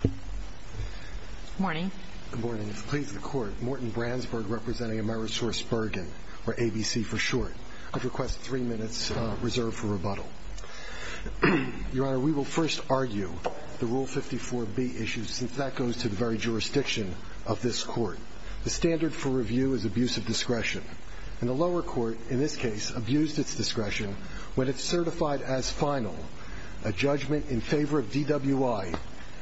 Good morning. Good morning. If it pleases the Court, Morten Brandsburg representing Amerisourcebergen, or ABC for short. I'd request three minutes reserved for rebuttal. Your Honor, we will first argue the Rule 54b issue, since that goes to the very jurisdiction of this Court. The standard for review is abuse of discretion. And the lower court, in this case, abused its discretion when it certified as final a judgment in favor of DWI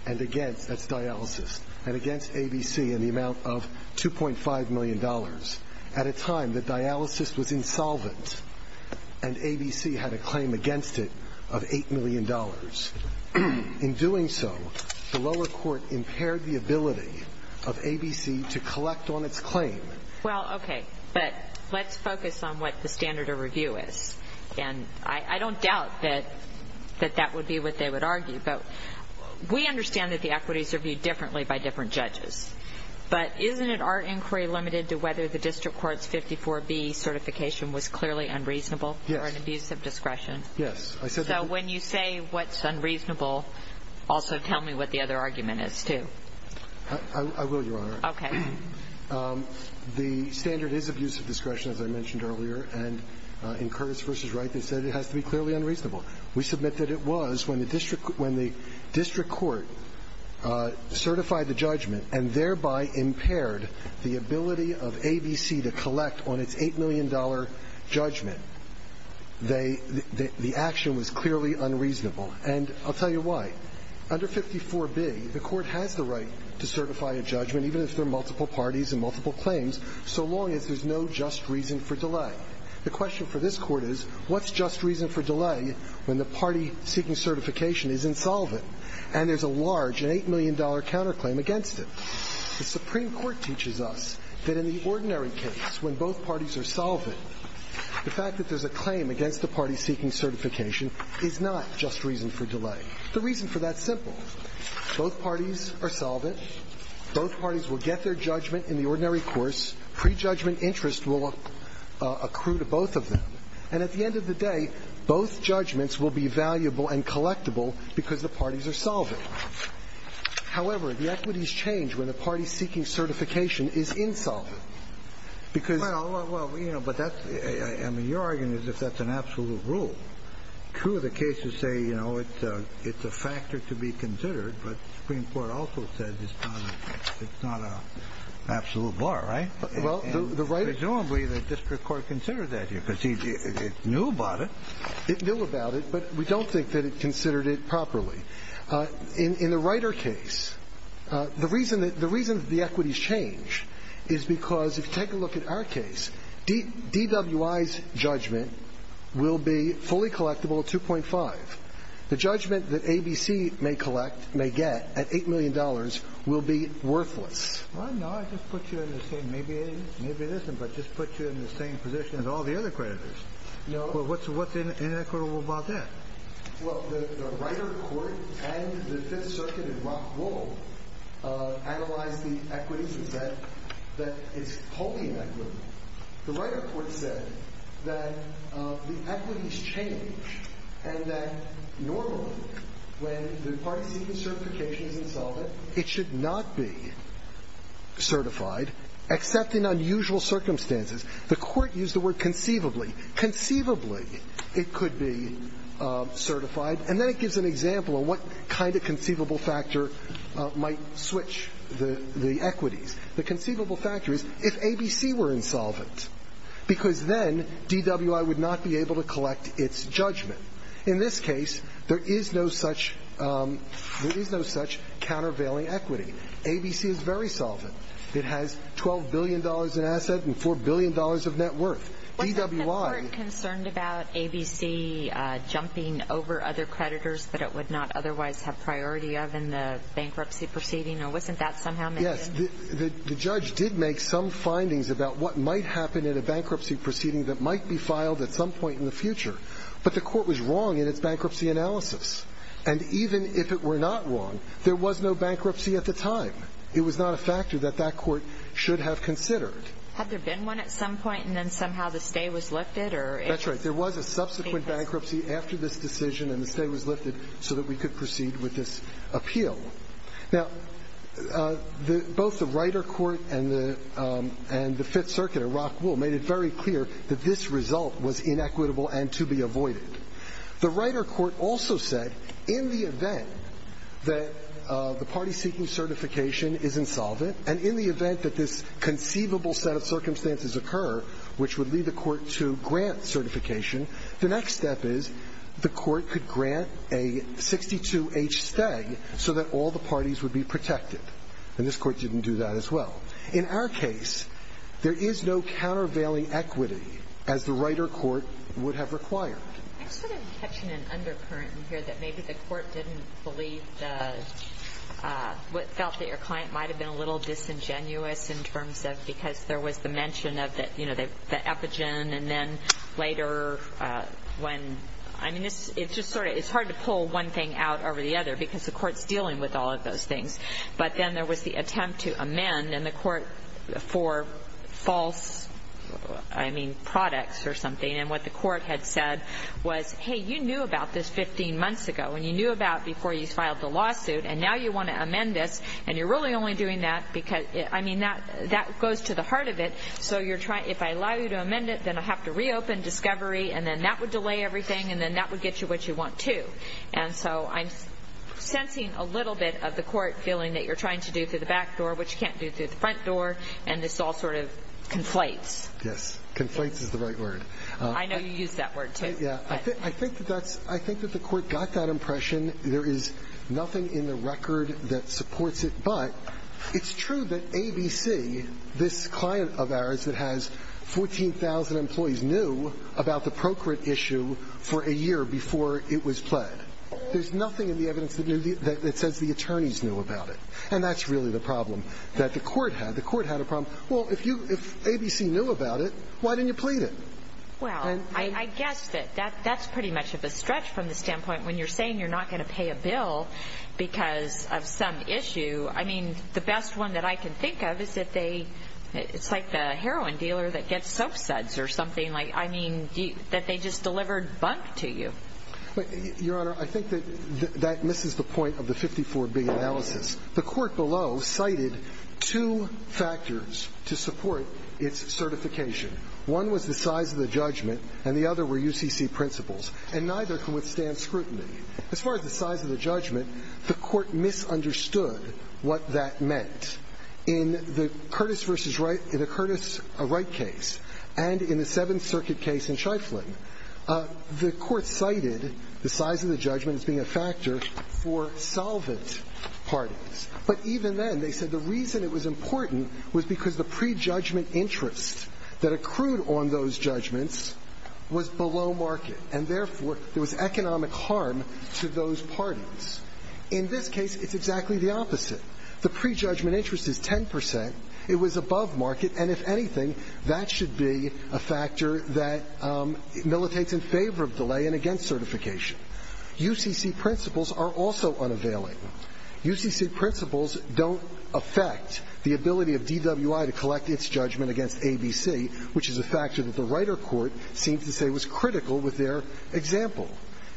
and against, that's dialysis, and against ABC in the amount of $2.5 million at a time that dialysis was insolvent and ABC had a claim against it of $8 million. In doing so, the lower court impaired the ability of ABC to collect on its claim. Well, okay, but let's focus on what the standard of review is. And I don't doubt that that would be what they would argue. But we understand that the equities are viewed differently by different judges. But isn't it our inquiry limited to whether the district court's 54b certification was clearly unreasonable or an abuse of discretion? Yes. So when you say what's unreasonable, also tell me what the other argument is, too. I will, Your Honor. Okay. The standard is abuse of discretion, as I mentioned earlier. And in Curtis v. Wright, they said it has to be clearly unreasonable. We submit that it was when the district court certified the judgment and thereby impaired the ability of ABC to collect on its $8 million judgment. They – the action was clearly unreasonable. And I'll tell you why. Under 54b, the Court has the right to certify a judgment, even if there are multiple parties and multiple claims, so long as there's no just reason for delay. The question for this Court is what's just reason for delay when the party seeking certification is insolvent and there's a large, an $8 million counterclaim against it? The Supreme Court teaches us that in the ordinary case, when both parties are solvent, the fact that there's a claim against the party seeking certification is not just reason for delay. The reason for that's simple. Both parties are solvent. Both parties will get their judgment in the ordinary course. Prejudgment interest will accrue to both of them. And at the end of the day, both judgments will be valuable and collectible because the parties are solvent. However, the equities change when the party seeking certification is insolvent because the parties are solvent. Well, you know, but that's – I mean, your argument is if that's an absolute true, the cases say, you know, it's a factor to be considered. But the Supreme Court also says it's not an absolute bar, right? Well, the right – Presumably the district court considered that here because it knew about it. It knew about it, but we don't think that it considered it properly. In the Ryder case, the reason that the equities change is because if you take a look at our case, DWI's judgment will be fully collectible at 2.5. The judgment that ABC may collect – may get at $8 million will be worthless. Well, no. I just put you in the same – maybe it isn't, but just put you in the same position as all the other creditors. No. Well, what's inequitable about that? Well, the Ryder court and the Fifth Circuit in Rockwool analyzed the equities and said that it's wholly inequitable. The Ryder court said that the equities change and that normally when the party's seeking certification is insolvent, it should not be certified, except in unusual circumstances. The Court used the word conceivably. Conceivably it could be certified, and then it gives an example of what kind of conceivable factor might switch the equities. The conceivable factor is if ABC were insolvent, because then DWI would not be able to collect its judgment. In this case, there is no such – there is no such countervailing equity. ABC is very solvent. It has $12 billion in asset and $4 billion of net worth. DWI – Was the court concerned about ABC jumping over other creditors that it would not otherwise have priority of in the bankruptcy proceeding? Or wasn't that somehow mentioned? Yes. The judge did make some findings about what might happen in a bankruptcy proceeding that might be filed at some point in the future. But the court was wrong in its bankruptcy analysis. And even if it were not wrong, there was no bankruptcy at the time. It was not a factor that that court should have considered. Had there been one at some point and then somehow the stay was lifted? That's right. There was a subsequent bankruptcy after this decision and the stay was lifted so that we could proceed with this appeal. Now, both the Riter Court and the Fifth Circuit at Rockwool made it very clear that this result was inequitable and to be avoided. The Riter Court also said in the event that the party seeking certification is insolvent and in the event that this conceivable set of circumstances occur, which would lead the court to grant certification, the next step is the court could grant a 62-H stay so that all the parties would be protected. And this court didn't do that as well. In our case, there is no countervailing equity as the Riter Court would have required. I'm sort of catching an undercurrent in here that maybe the court didn't believe the – felt that your client might have been a little disingenuous in terms of because there was the mention of the – you know, the epigen and then later when – I mean, it's just sort of – it's hard to pull one thing out over the other because the court's dealing with all of those things. But then there was the attempt to amend and the court for false, I mean, products or something and what the court had said was, hey, you knew about this 15 months ago and you knew about it before you filed the lawsuit and now you want to amend this and you're really only doing that because – I mean, that goes to the heart of it. So you're trying – if I allow you to amend it, then I'll have to reopen discovery and then that would delay everything and then that would get you what you want to. And so I'm sensing a little bit of the court feeling that you're trying to do through the back door what you can't do through the front door and this all sort of conflates. Yes. Conflates is the right word. I know you use that word, too. Yeah. I think that that's – I think that the court got that impression. There is nothing in the record that supports it, but it's true that ABC, this client of ours that has 14,000 employees, knew about the procreate issue for a year before it was pled. There's nothing in the evidence that says the attorneys knew about it. And that's really the problem that the court had. The court had a problem. Well, if ABC knew about it, why didn't you plead it? Well, I guess that that's pretty much of a stretch from the standpoint when you're saying you're not going to pay a bill because of some issue. I mean, the best one that I can think of is that they – it's like the heroin dealer that gets soap suds or something. I mean, that they just delivered bunk to you. Your Honor, I think that that misses the point of the 54B analysis. The court below cited two factors to support its certification. One was the size of the judgment, and the other were UCC principles, and neither can withstand scrutiny. As far as the size of the judgment, the court misunderstood what that meant. In the Curtis v. Wright – in the Curtis Wright case and in the Seventh Circuit case in Shiflin, the court cited the size of the judgment as being a factor for solvent parties. But even then, they said the reason it was important was because the prejudgment interest that accrued on those judgments was below market, and therefore, there was economic harm to those parties. In this case, it's exactly the opposite. The prejudgment interest is 10 percent. It was above market, and if anything, that should be a factor that militates in favor of delay and against certification. UCC principles are also unavailing. UCC principles don't affect the ability of DWI to collect its judgment against ABC, which is a factor that the writer court seemed to say was critical with their example.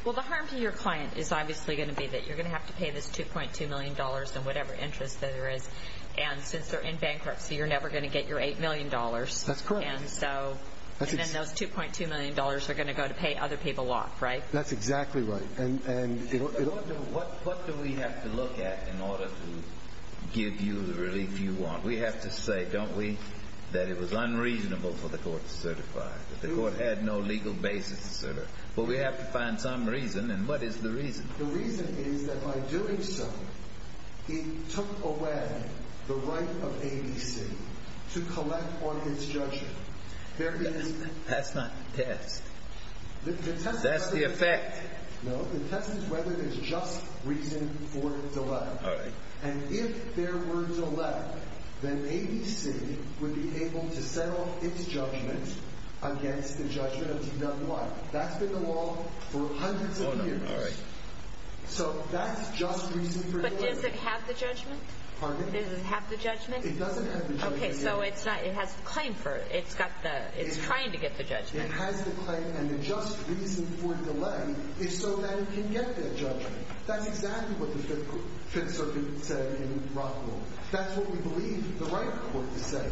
Well, the harm to your client is obviously going to be that you're going to have to pay this $2.2 million in whatever interest that there is, and since they're in bankruptcy, you're never going to get your $8 million. That's correct. And so, and then those $2.2 million are going to go to pay other people off, right? That's exactly right. What do we have to look at in order to give you the relief you want? We have to say, don't we, that it was unreasonable for the court to certify, that the court had no legal basis to certify. But we have to find some reason, and what is the reason? The reason is that by doing so, it took away the right of ABC to collect on its judgment. That's not a test. That's the effect. No, the test is whether there's just reason for delay. All right. And if there were delay, then ABC would be able to settle its judgment against the judgment of D-N-Y. That's been the law for hundreds of years. All right. So that's just reason for delay. But does it have the judgment? Pardon me? Does it have the judgment? It doesn't have the judgment. Okay, so it's not, it has the claim for it. It's got the, it's trying to get the judgment. It has the claim, and the just reason for delay is so that it can get that judgment. That's exactly what the Fifth Circuit said in Rockville. That's what we believe the right of the court to say.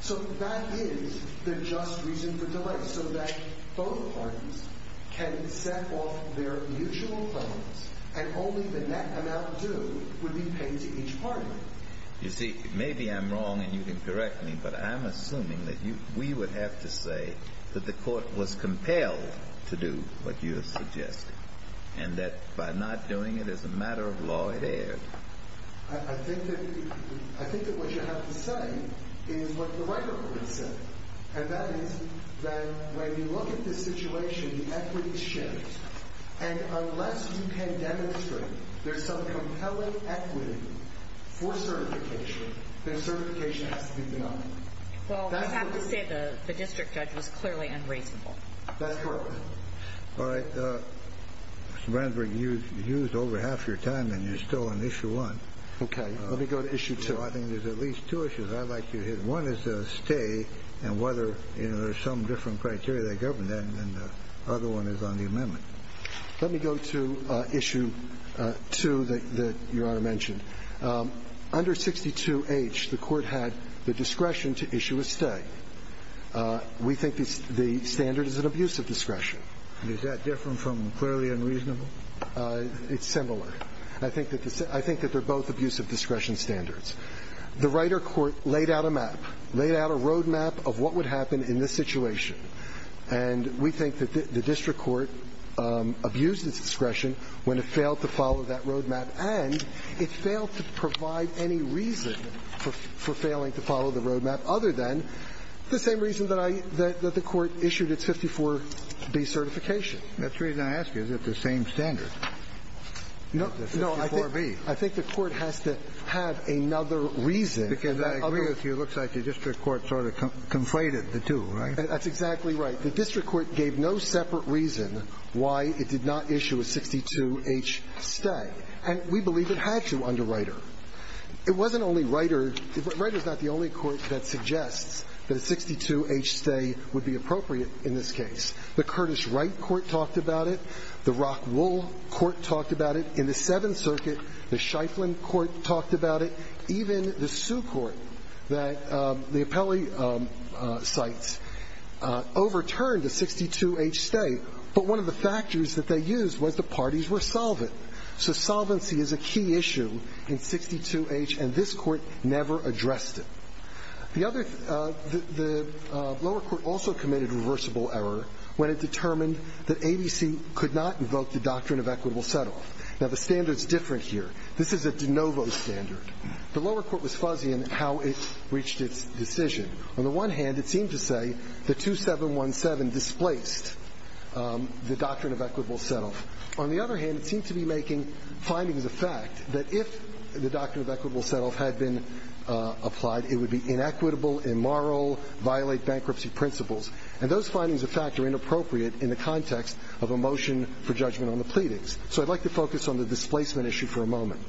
So that is the just reason for delay, so that both parties can set off their mutual claims, and only the net amount due would be paid to each party. You see, maybe I'm wrong, and you can correct me, but I'm assuming that we would have to say that the court was compelled to do what you have suggested, and that by not doing it as a matter of law, it erred. I think that what you have to say is what the right of the court said, and that is that when you look at this situation, the equity is shared. And unless you can demonstrate there's some compelling equity for certification, then certification has to be denied. Well, we have to say the district judge was clearly unreasonable. That's correct. All right. Mr. Brandenburg, you used over half your time, and you're still on Issue 1. Okay. Let me go to Issue 2. I think there's at least two issues I'd like you to hit. One is the stay and whether there's some different criteria that govern that, and the other one is on the amendment. Let me go to Issue 2 that Your Honor mentioned. Under 62H, the court had the discretion to issue a stay. We think the standard is an abuse of discretion. And is that different from clearly unreasonable? It's similar. I think that they're both abuse of discretion standards. The right of court laid out a map, laid out a roadmap of what would happen in this situation, and we think that the district court abused its discretion when it failed to follow that roadmap, and it failed to provide any reason for failing to follow the roadmap other than the same reason that I – that the court issued its 54B certification. That's the reason I ask you. Is it the same standard? No. No, I think the court has to have another reason. Because I agree with you. It looks like the district court sort of conflated the two, right? That's exactly right. The district court gave no separate reason why it did not issue a 62H stay, and we believe it had to under Reiter. It wasn't only Reiter. Reiter is not the only court that suggests that a 62H stay would be appropriate in this case. The Curtis Wright Court talked about it. The Rockwool Court talked about it. In the Seventh Circuit, the Schieffelin Court talked about it. Even the Sioux Court that the appellee cites overturned a 62H stay, but one of the factors that they used was the parties were solvent. So solvency is a key issue in 62H, and this Court never addressed it. The other – the lower court also committed reversible error when it determined that ABC could not invoke the doctrine of equitable setoff. Now, the standard is different here. This is a de novo standard. The lower court was fuzzy in how it reached its decision. On the one hand, it seemed to say that 2717 displaced the doctrine of equitable setoff. On the other hand, it seemed to be making findings of fact that if the doctrine of equitable setoff had been applied, it would be inequitable, immoral, violate bankruptcy principles. And those findings of fact are inappropriate in the context of a motion for judgment on the pleadings. So I'd like to focus on the displacement issue for a moment.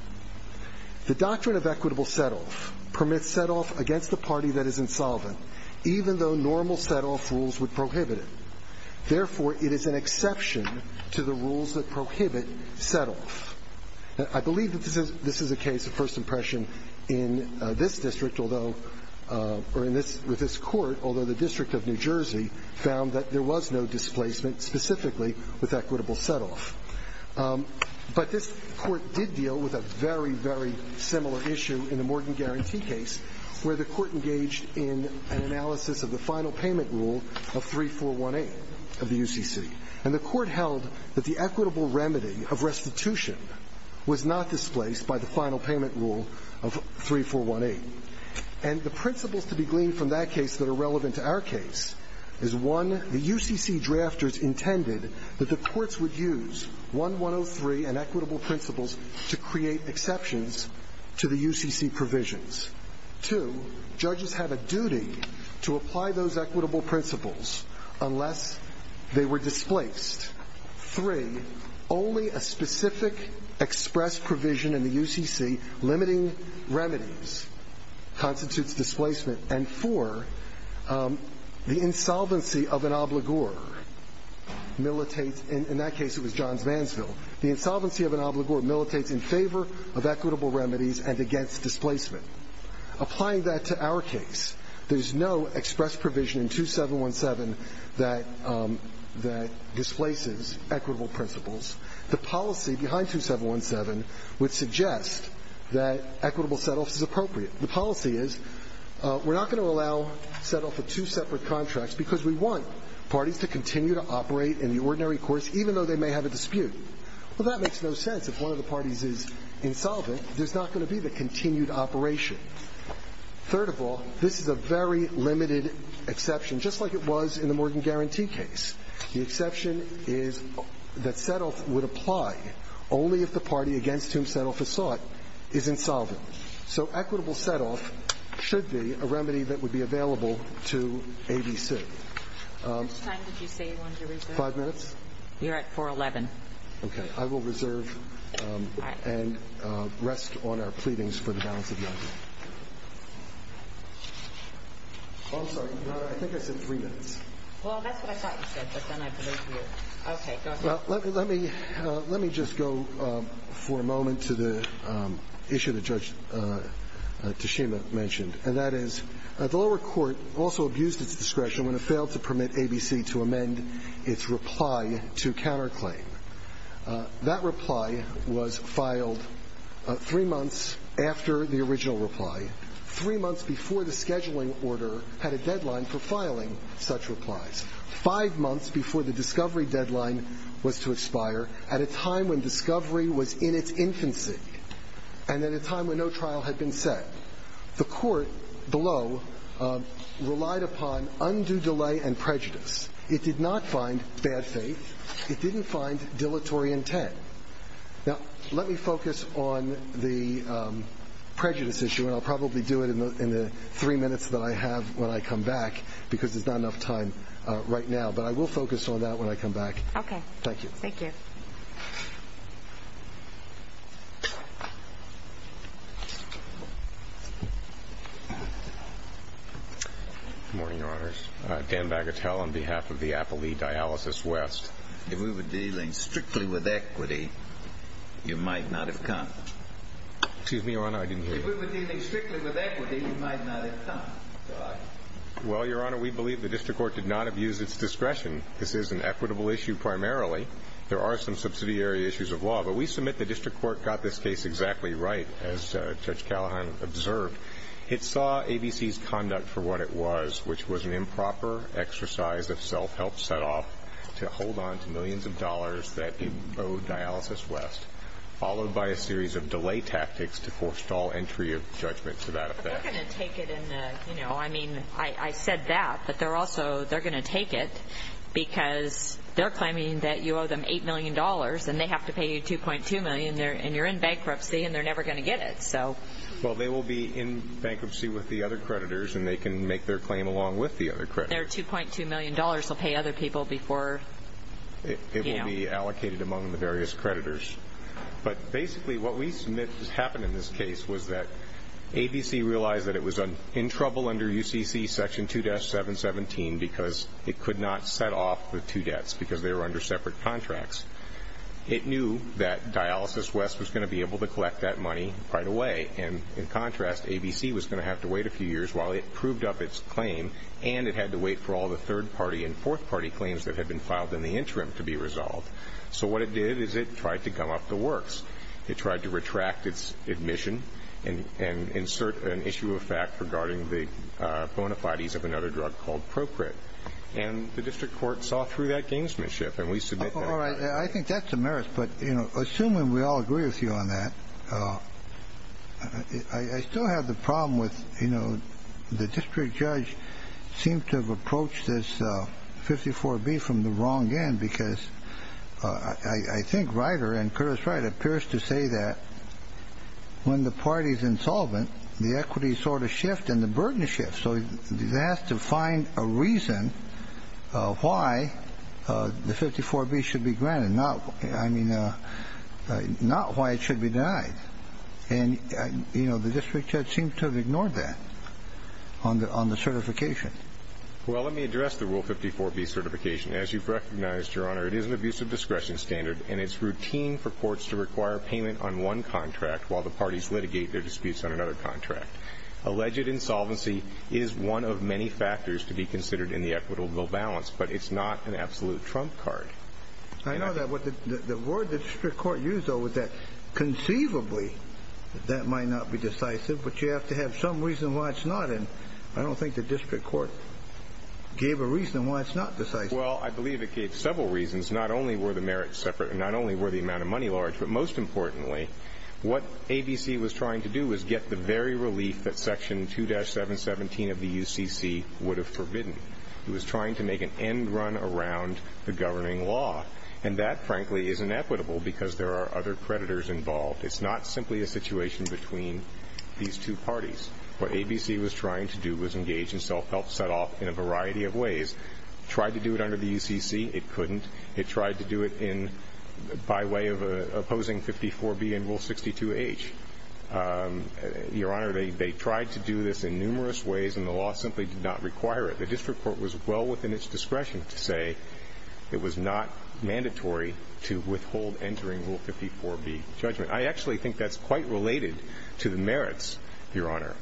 The doctrine of equitable setoff permits setoff against the party that is insolvent, even though normal setoff rules would prohibit it. Therefore, it is an exception to the rules that prohibit setoff. I believe that this is a case of first impression in this district, although – or in this – with this Court, although the District of New Jersey found that there was no displacement specifically with equitable setoff. But this Court did deal with a very, very similar issue in the Morgan Guarantee case, where the Court engaged in an analysis of the final payment rule of 3418 of the UCC. And the Court held that the equitable remedy of restitution was not displaced by the final payment rule of 3418. And the principles to be gleaned from that case that are relevant to our case is, one, the UCC drafters intended that the courts would use 1103 and equitable principles to create exceptions to the UCC provisions. Two, judges have a duty to apply those equitable principles unless they were displaced. Three, only a specific express provision in the UCC limiting remedies constitutes displacement. And four, the insolvency of an obligor militates – in that case, it was Johns Mansville – the insolvency of an obligor militates in favor of equitable remedies and against displacement. Applying that to our case, there is no express provision in 2717 that – that displaces equitable principles. The policy behind 2717 would suggest that equitable setoffs is appropriate. The policy is we're not going to allow setoff of two separate contracts because we want parties to continue to operate in the ordinary course, even though they may have a dispute. Well, that makes no sense. If one of the parties is insolvent, there's not going to be the continued operation. Third of all, this is a very limited exception, just like it was in the Morgan guarantee case. The exception is that setoff would apply only if the party against whom setoff is sought is insolvent. So equitable setoff should be a remedy that would be available to ABC. That's it. How much time did you say you wanted to reserve? Five minutes. You're at 411. Okay. I will reserve and rest on our pleadings for the balance of the item. Oh, I'm sorry. I think I said three minutes. Well, that's what I thought you said, but then I believed you. Okay. Go ahead. Let me – let me just go for a moment to the issue that Judge Tashima mentioned, and that is the lower court also abused its discretion when it failed to permit ABC to amend its reply to counterclaim. That reply was filed three months after the original reply, three months before the scheduling order had a deadline for filing such replies, five months before the discovery deadline was to expire, at a time when discovery was in its infancy and at a time when no trial had been set. The court below relied upon undue delay and prejudice. It did not find bad faith. It didn't find dilatory intent. Now, let me focus on the prejudice issue, and I'll probably do it in the three minutes that I have when I come back because there's not enough time right now, but I will focus on that when I come back. Okay. Thank you. Thank you. Good morning, Your Honors. Dan Bagatelle on behalf of the Appellee Dialysis West. If we were dealing strictly with equity, you might not have come. Excuse me, Your Honor, I didn't hear you. If we were dealing strictly with equity, you might not have come. Well, Your Honor, we believe the district court did not abuse its discretion. This is an equitable issue primarily. There are some subsidiary issues of law. But we submit the district court got this case exactly right, as Judge Callahan observed. It saw ABC's conduct for what it was, which was an improper exercise of self- help set off to hold on to millions of dollars that it owed Dialysis West, followed by a series of delay tactics to force stall entry of judgment to that effect. But they're going to take it in the, you know, I mean, I said that, but they're also going to take it because they're claiming that you owe them $8 million and they have to pay you $2.2 million and you're in bankruptcy and they're never going to get it. Well, they will be in bankruptcy with the other creditors and they can make their claim along with the other creditors. Their $2.2 million will pay other people before, you know. It will be allocated among the various creditors. But basically what we submit happened in this case was that ABC realized that it was in trouble under UCC Section 2-717 because it could not set off the two contracts. It knew that Dialysis West was going to be able to collect that money right away. And in contrast, ABC was going to have to wait a few years while it proved up its claim and it had to wait for all the third-party and fourth-party claims that had been filed in the interim to be resolved. So what it did is it tried to gum up the works. It tried to retract its admission and insert an issue of fact regarding the bona fides of another drug called Procrit. And the district court saw through that gamesmanship and we submit that. All right. I think that's a merit. But, you know, assuming we all agree with you on that, I still have the problem with, you know, the district judge seemed to have approached this 54B from the wrong end because I think Ryder and Curtis Wright appears to say that when the party is insolvent, the equities sort of shift and the burden shifts. So they have to find a reason why the 54B should be granted, not why it should be denied. And, you know, the district judge seemed to have ignored that on the certification. Well, let me address the Rule 54B certification. As you've recognized, Your Honor, it is an abusive discretion standard and it's routine for courts to require payment on one contract while the parties litigate their disputes on another contract. Alleged insolvency is one of many factors to be considered in the equitable balance, but it's not an absolute trump card. I know that. The word the district court used, though, was that conceivably that that might not be decisive, but you have to have some reason why it's not. And I don't think the district court gave a reason why it's not decisive. Well, I believe it gave several reasons. Not only were the merits separate and not only were the amount of money large, but most importantly, what ABC was trying to do was get the very relief that Section 2-717 of the UCC would have forbidden. It was trying to make an end run around the governing law. And that, frankly, is inequitable because there are other creditors involved. It's not simply a situation between these two parties. What ABC was trying to do was engage in self-help set off in a variety of ways. Tried to do it under the UCC. It couldn't. It tried to do it by way of opposing 54B and Rule 62H. Your Honor, they tried to do this in numerous ways and the law simply did not require it. The district court was well within its discretion to say it was not mandatory to withhold entering Rule 54B judgment. I actually think that's quite related to the merits, Your Honor.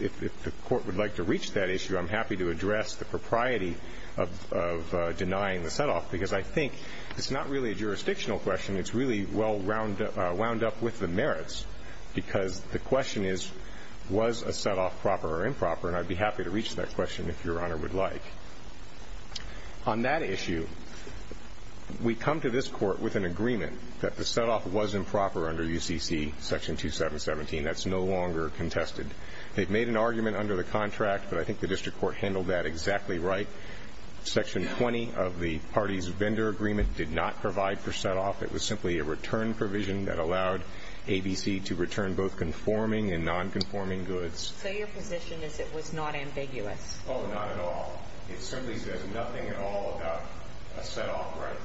If the court would like to reach that issue, I'm happy to address the propriety of denying the set off because I think it's not really a jurisdictional question. It's really well wound up with the merits because the question is, was a set off proper or improper? And I'd be happy to reach that question if Your Honor would like. On that issue, we come to this court with an agreement that the set off was improper under UCC Section 2-717. That's no longer contested. They've made an argument under the contract, but I think the district court handled that exactly right. Section 20 of the party's vendor agreement did not provide for set off. It was simply a return provision that allowed ABC to return both conforming and nonconforming goods. So your position is it was not ambiguous? Oh, not at all. It simply says nothing at all about a set off, right?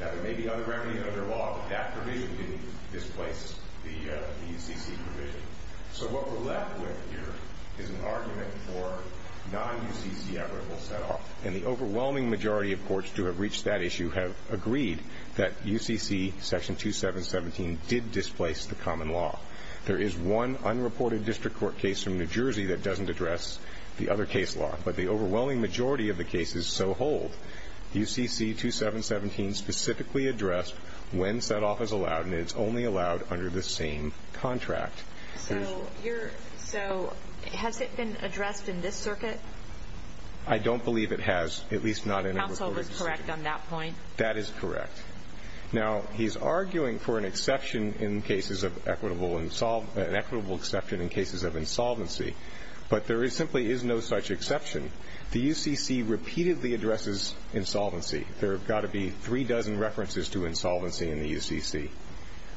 Now, there may be other remedies under the law, but that provision didn't displace the UCC provision. So what we're left with here is an argument for non-UCC equitable set off. And the overwhelming majority of courts to have reached that issue have agreed that UCC Section 2-717 did displace the common law. There is one unreported district court case from New Jersey that doesn't address the other case law. But the overwhelming majority of the cases so hold. under the same contract. So has it been addressed in this circuit? I don't believe it has, at least not in a report. Counsel was correct on that point? That is correct. Now, he's arguing for an exception in cases of equitable and an equitable exception in cases of insolvency. But there simply is no such exception. The UCC repeatedly addresses insolvency. There have got to be three dozen references to insolvency in the UCC.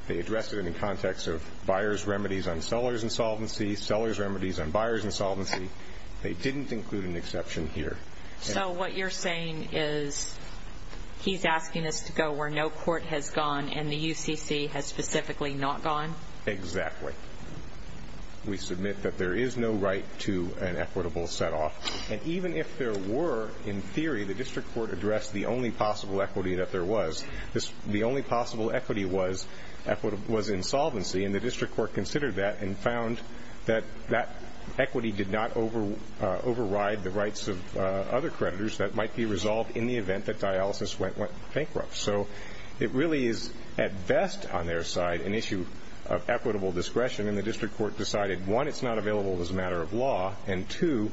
They address it in the context of buyer's remedies on seller's insolvency, seller's remedies on buyer's insolvency. They didn't include an exception here. So what you're saying is he's asking us to go where no court has gone and the UCC has specifically not gone? Exactly. We submit that there is no right to an equitable set off. And even if there were, in theory, the district court addressed the only possible equity that there was, the only possible equity was insolvency, and the district court considered that and found that that equity did not override the rights of other creditors that might be resolved in the event that dialysis went bankrupt. So it really is at best on their side an issue of equitable discretion, and the district court decided, one, it's not available as a matter of law, and two,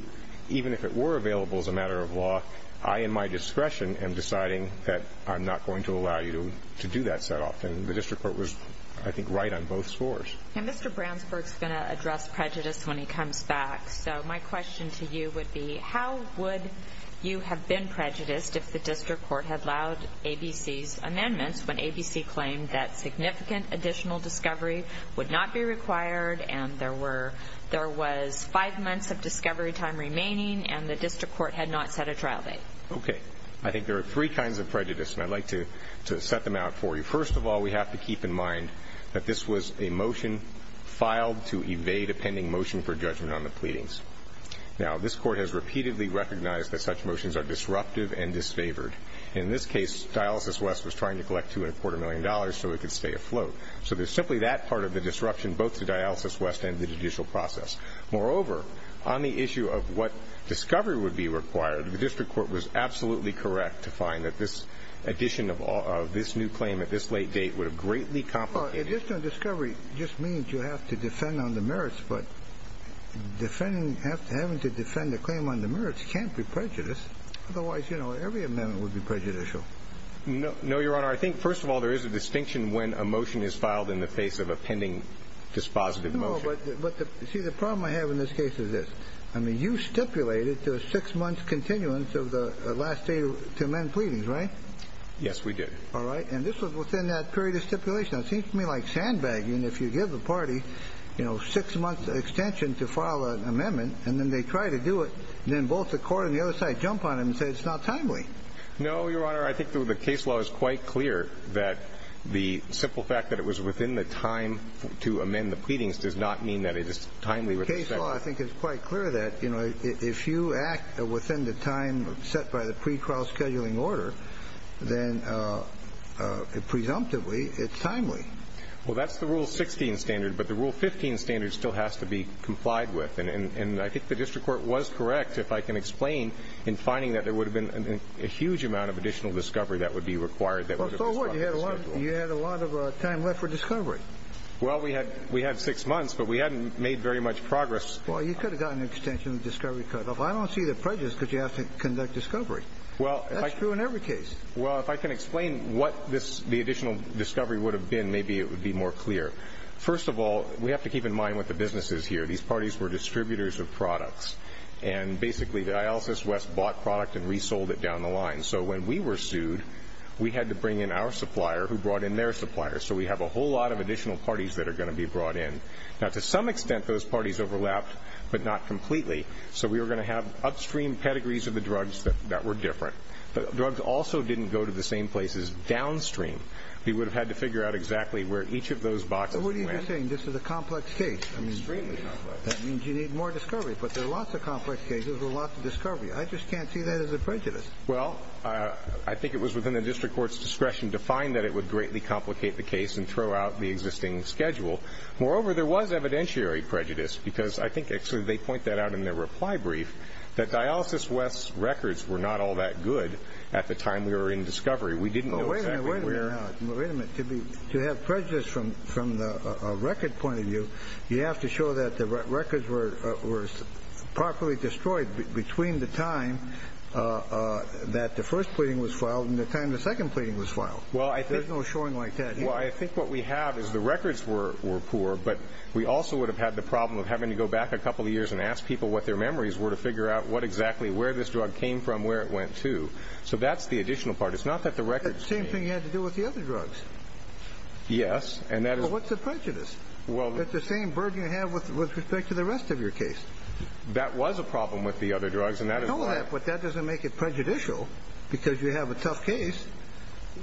even if it were available as a matter of law, I in my discretion am deciding that I'm not going to allow you to do that set off. And the district court was, I think, right on both scores. And Mr. Bransburg is going to address prejudice when he comes back. So my question to you would be, how would you have been prejudiced if the district court had allowed ABC's amendments when ABC claimed that significant additional discovery would not be required and there was five months of discovery time remaining and the district court had not set a trial date? Okay. I think there are three kinds of prejudice, and I'd like to set them out for you. First of all, we have to keep in mind that this was a motion filed to evade a pending motion for judgment on the pleadings. Now, this court has repeatedly recognized that such motions are disruptive and disfavored. In this case, Dialysis West was trying to collect $2.25 million so it could stay afloat. So there's simply that part of the disruption, both to Dialysis West and the judicial process. Moreover, on the issue of what discovery would be required, the district court was absolutely correct to find that this addition of this new claim at this late date would have greatly complicated it. Well, additional discovery just means you have to defend on the merits, but having to defend the claim on the merits can't be prejudiced. Otherwise, you know, every amendment would be prejudicial. No, Your Honor. I think, first of all, there is a distinction when a motion is filed in the face of a pending dispositive motion. No, but see, the problem I have in this case is this. I mean, you stipulated to a six month continuance of the last day to amend pleadings, right? Yes, we did. All right. And this was within that period of stipulation. It seems to me like sandbagging. If you give the party, you know, six months extension to file an amendment and then they try to do it. And then both the court and the other side jump on him and say, it's not timely. No, Your Honor. I think the case law is quite clear that the simple fact that it was within the time to amend the pleadings does not mean that it is timely. The case law, I think, is quite clear that, you know, if you act within the time set by the pre-trial scheduling order, then presumptively it's timely. Well, that's the Rule 16 standard, but the Rule 15 standard still has to be complied with. And I think the district court was correct, if I can explain in finding that there would have been a huge amount of additional discovery that would be required. So what? You had a lot of time left for discovery. Well, we had six months, but we hadn't made very much progress. Well, you could have gotten an extension of the discovery cutoff. I don't see the prejudice because you have to conduct discovery. Well, that's true in every case. Well, if I can explain what the additional discovery would have been, maybe it would be more clear. First of all, we have to keep in mind what the business is here. These parties were distributors of products. And basically, Dialysis West bought product and resold it down the line. So when we were sued, we had to bring in our supplier who brought in their supplier. So we have a whole lot of additional parties that are going to be brought in. Now, to some extent, those parties overlapped, but not completely. So we were going to have upstream pedigrees of the drugs that were different. But drugs also didn't go to the same places downstream. We would have had to figure out exactly where each of those boxes went. What are you saying? This is a complex case. Extremely complex. That means you need more discovery. But there are lots of complex cases with lots of discovery. I just can't see that as a prejudice. Well, I think it was within the district court's discretion to find that it would greatly complicate the case and throw out the existing schedule. Moreover, there was evidentiary prejudice, because I think actually they point that out in their reply brief, that Dialysis West's records were not all that good at the time we were in discovery. We didn't know exactly where. Wait a minute. Wait a minute. To have prejudice from the record point of view, you have to show that the records were properly destroyed between the time that the first pleading was filed and the time the second pleading was filed. There's no showing like that. Well, I think what we have is the records were poor, but we also would have had the problem of having to go back a couple of years and ask people what their memories were to figure out what exactly, where this drug came from, where it went to. So that's the additional part. It's not that the records came. It's the same thing you had to do with the other drugs. Yes. But what's the prejudice? It's the same burden you have with respect to the rest of your case. That was a problem with the other drugs. I know that, but that doesn't make it prejudicial because you have a tough case.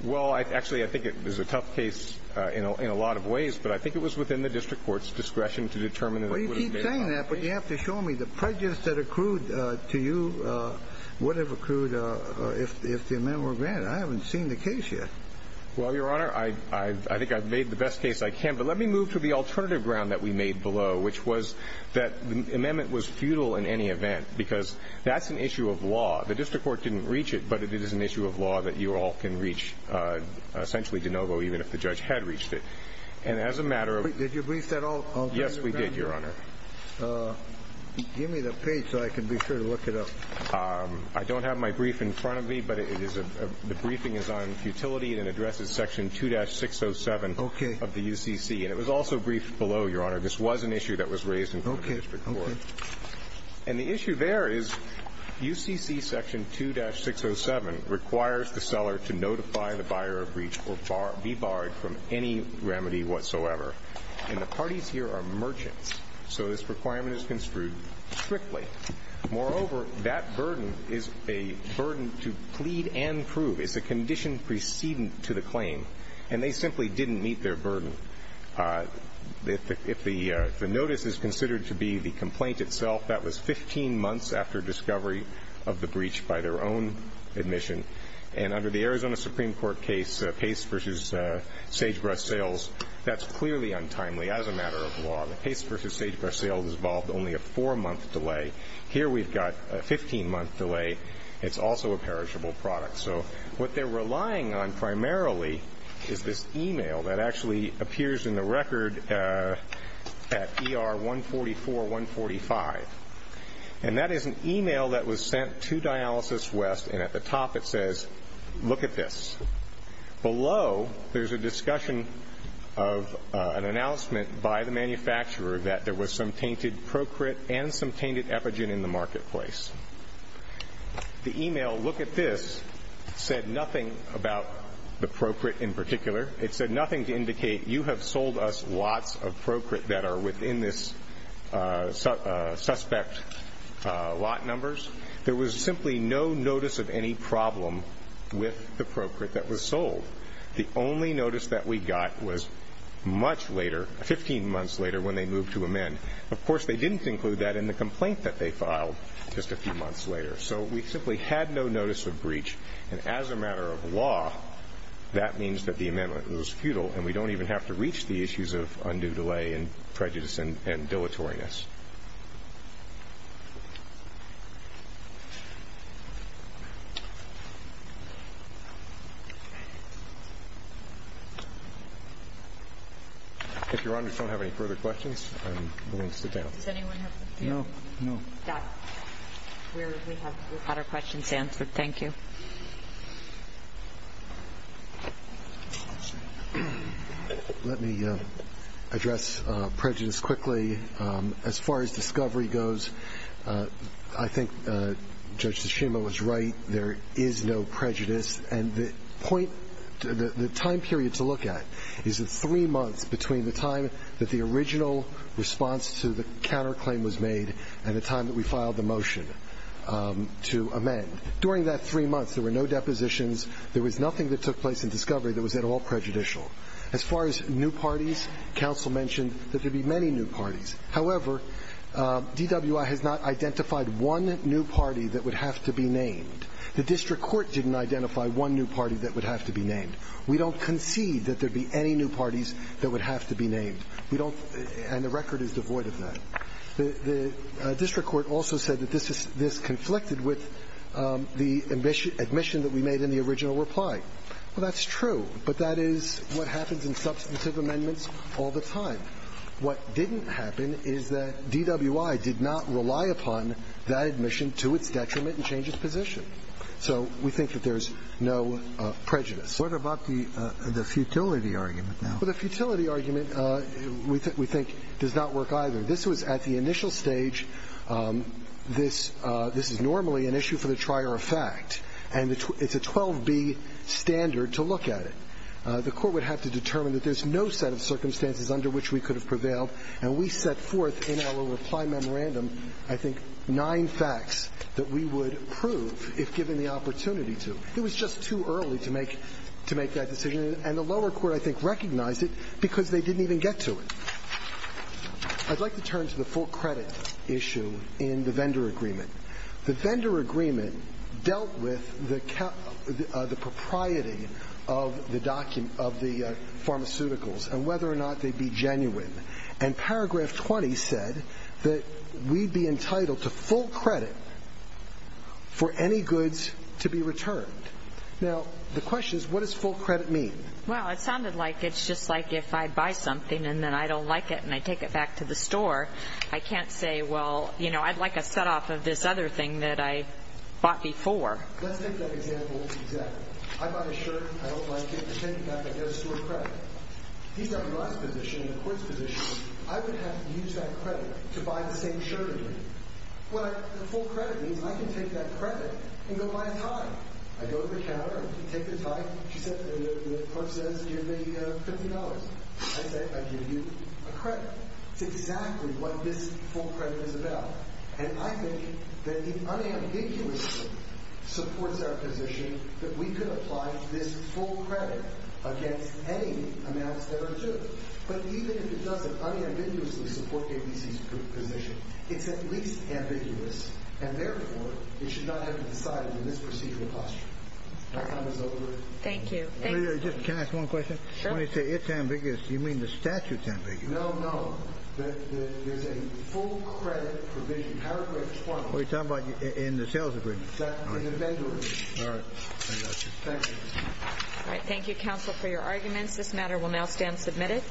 Well, actually, I think it was a tough case in a lot of ways, but I think it was within the district court's discretion to determine that it would have been a tough case. Well, you keep saying that, but you have to show me the prejudice that accrued to you would have accrued if the amendment were granted. I haven't seen the case yet. Well, Your Honor, I think I've made the best case I can. But let me move to the alternative ground that we made below, which was that the amendment was futile in any event because that's an issue of law. The district court didn't reach it, but it is an issue of law that you all can reach, essentially, de novo, even if the judge had reached it. Did you brief that alternative ground? Yes, we did, Your Honor. Give me the page so I can be sure to look it up. I don't have my brief in front of me, but the briefing is on futility and addresses section 2-607 of the UCC. And it was also briefed below, Your Honor. This was an issue that was raised in front of the district court. And the issue there is UCC section 2-607 requires the seller to notify the buyer of breach or be barred from any remedy whatsoever. And the parties here are merchants, so this requirement is construed strictly. Moreover, that burden is a burden to plead and prove. It's a condition precedent to the claim. And they simply didn't meet their burden. If the notice is considered to be the complaint itself, that was 15 months after discovery of the breach by their own admission. And under the Arizona Supreme Court case, Pace v. Sagebrush Sales, that's clearly untimely as a matter of law. The Pace v. Sagebrush Sales involved only a four-month delay. Here we've got a 15-month delay. It's also a perishable product. So what they're relying on primarily is this e-mail that actually appears in the record at ER-144-145. And that is an e-mail that was sent to Dialysis West, and at the top it says, look at this. Below, there's a discussion of an announcement by the manufacturer that there was some tainted Procrit and some tainted Epigen in the marketplace. The e-mail, look at this, said nothing about the Procrit in particular. It said nothing to indicate you have sold us lots of Procrit that are within this suspect lot numbers. There was simply no notice of any problem with the Procrit that was sold. The only notice that we got was much later, 15 months later, when they moved to amend. Of course, they didn't include that in the complaint that they filed just a few months later. So we simply had no notice of breach. And as a matter of law, that means that the amendment was futile, and we don't even have to reach the issues of undue delay and prejudice and dilatoriness. If your honors don't have any further questions, I'm willing to sit down. Does anyone have any? No. No. Got it. We have our questions answered. Thank you. Let me address prejudice quickly. As far as discovery goes, I think Judge Tsushima was right. There is no prejudice. And the point, the time period to look at is the three months between the time that the original response to the counterclaim was made and the time that we filed the motion to amend. During that three months, there were no depositions. There was nothing that took place in discovery that was at all prejudicial. As far as new parties, counsel mentioned that there would be many new parties. However, DWI has not identified one new party that would have to be named. The district court didn't identify one new party that would have to be named. We don't concede that there would be any new parties that would have to be named. We don't, and the record is devoid of that. The district court also said that this conflicted with the admission that we made in the original reply. Well, that's true, but that is what happens in substantive amendments all the time. What didn't happen is that DWI did not rely upon that admission to its detriment and change its position. So we think that there's no prejudice. What about the futility argument now? Well, the futility argument we think does not work either. This was at the initial stage. This is normally an issue for the trier of fact. And it's a 12B standard to look at it. The Court would have to determine that there's no set of circumstances under which we could have prevailed. And we set forth in our reply memorandum, I think, nine facts that we would prove if given the opportunity to. It was just too early to make that decision, and the lower court, I think, recognized it because they didn't even get to it. I'd like to turn to the full credit issue in the vendor agreement. The vendor agreement dealt with the propriety of the pharmaceuticals and whether or not they'd be genuine. And Paragraph 20 said that we'd be entitled to full credit for any goods to be returned. Now, the question is, what does full credit mean? Well, it sounded like it's just like if I buy something and then I don't like it and I take it back to the store. I can't say, well, you know, I'd like a set-off of this other thing that I bought before. Let's take that example exactly. I buy a shirt and I don't like it. I take it back. I get a store credit. He's got my position and the Court's position. I would have to use that credit to buy the same shirt again. Well, the full credit means I can take that credit and go buy a tie. I go to the counter. I take the tie. The clerk says, give me $50. I say, I give you a credit. It's exactly what this full credit is about. And I think that it unambiguously supports our position that we could apply this full credit against any amounts that are due. But even if it doesn't unambiguously support KDC's position, it's at least ambiguous, and therefore it should not have been decided in this procedural posture. My time is over. Thank you. Can I ask one question? When you say it's ambiguous, do you mean the statute's ambiguous? No, no. There's a full credit provision, paragraph 20. What are you talking about in the sales agreement? In the vendor agreement. All right. Thank you. All right. Thank you, counsel, for your arguments. This matter will now stand submitted.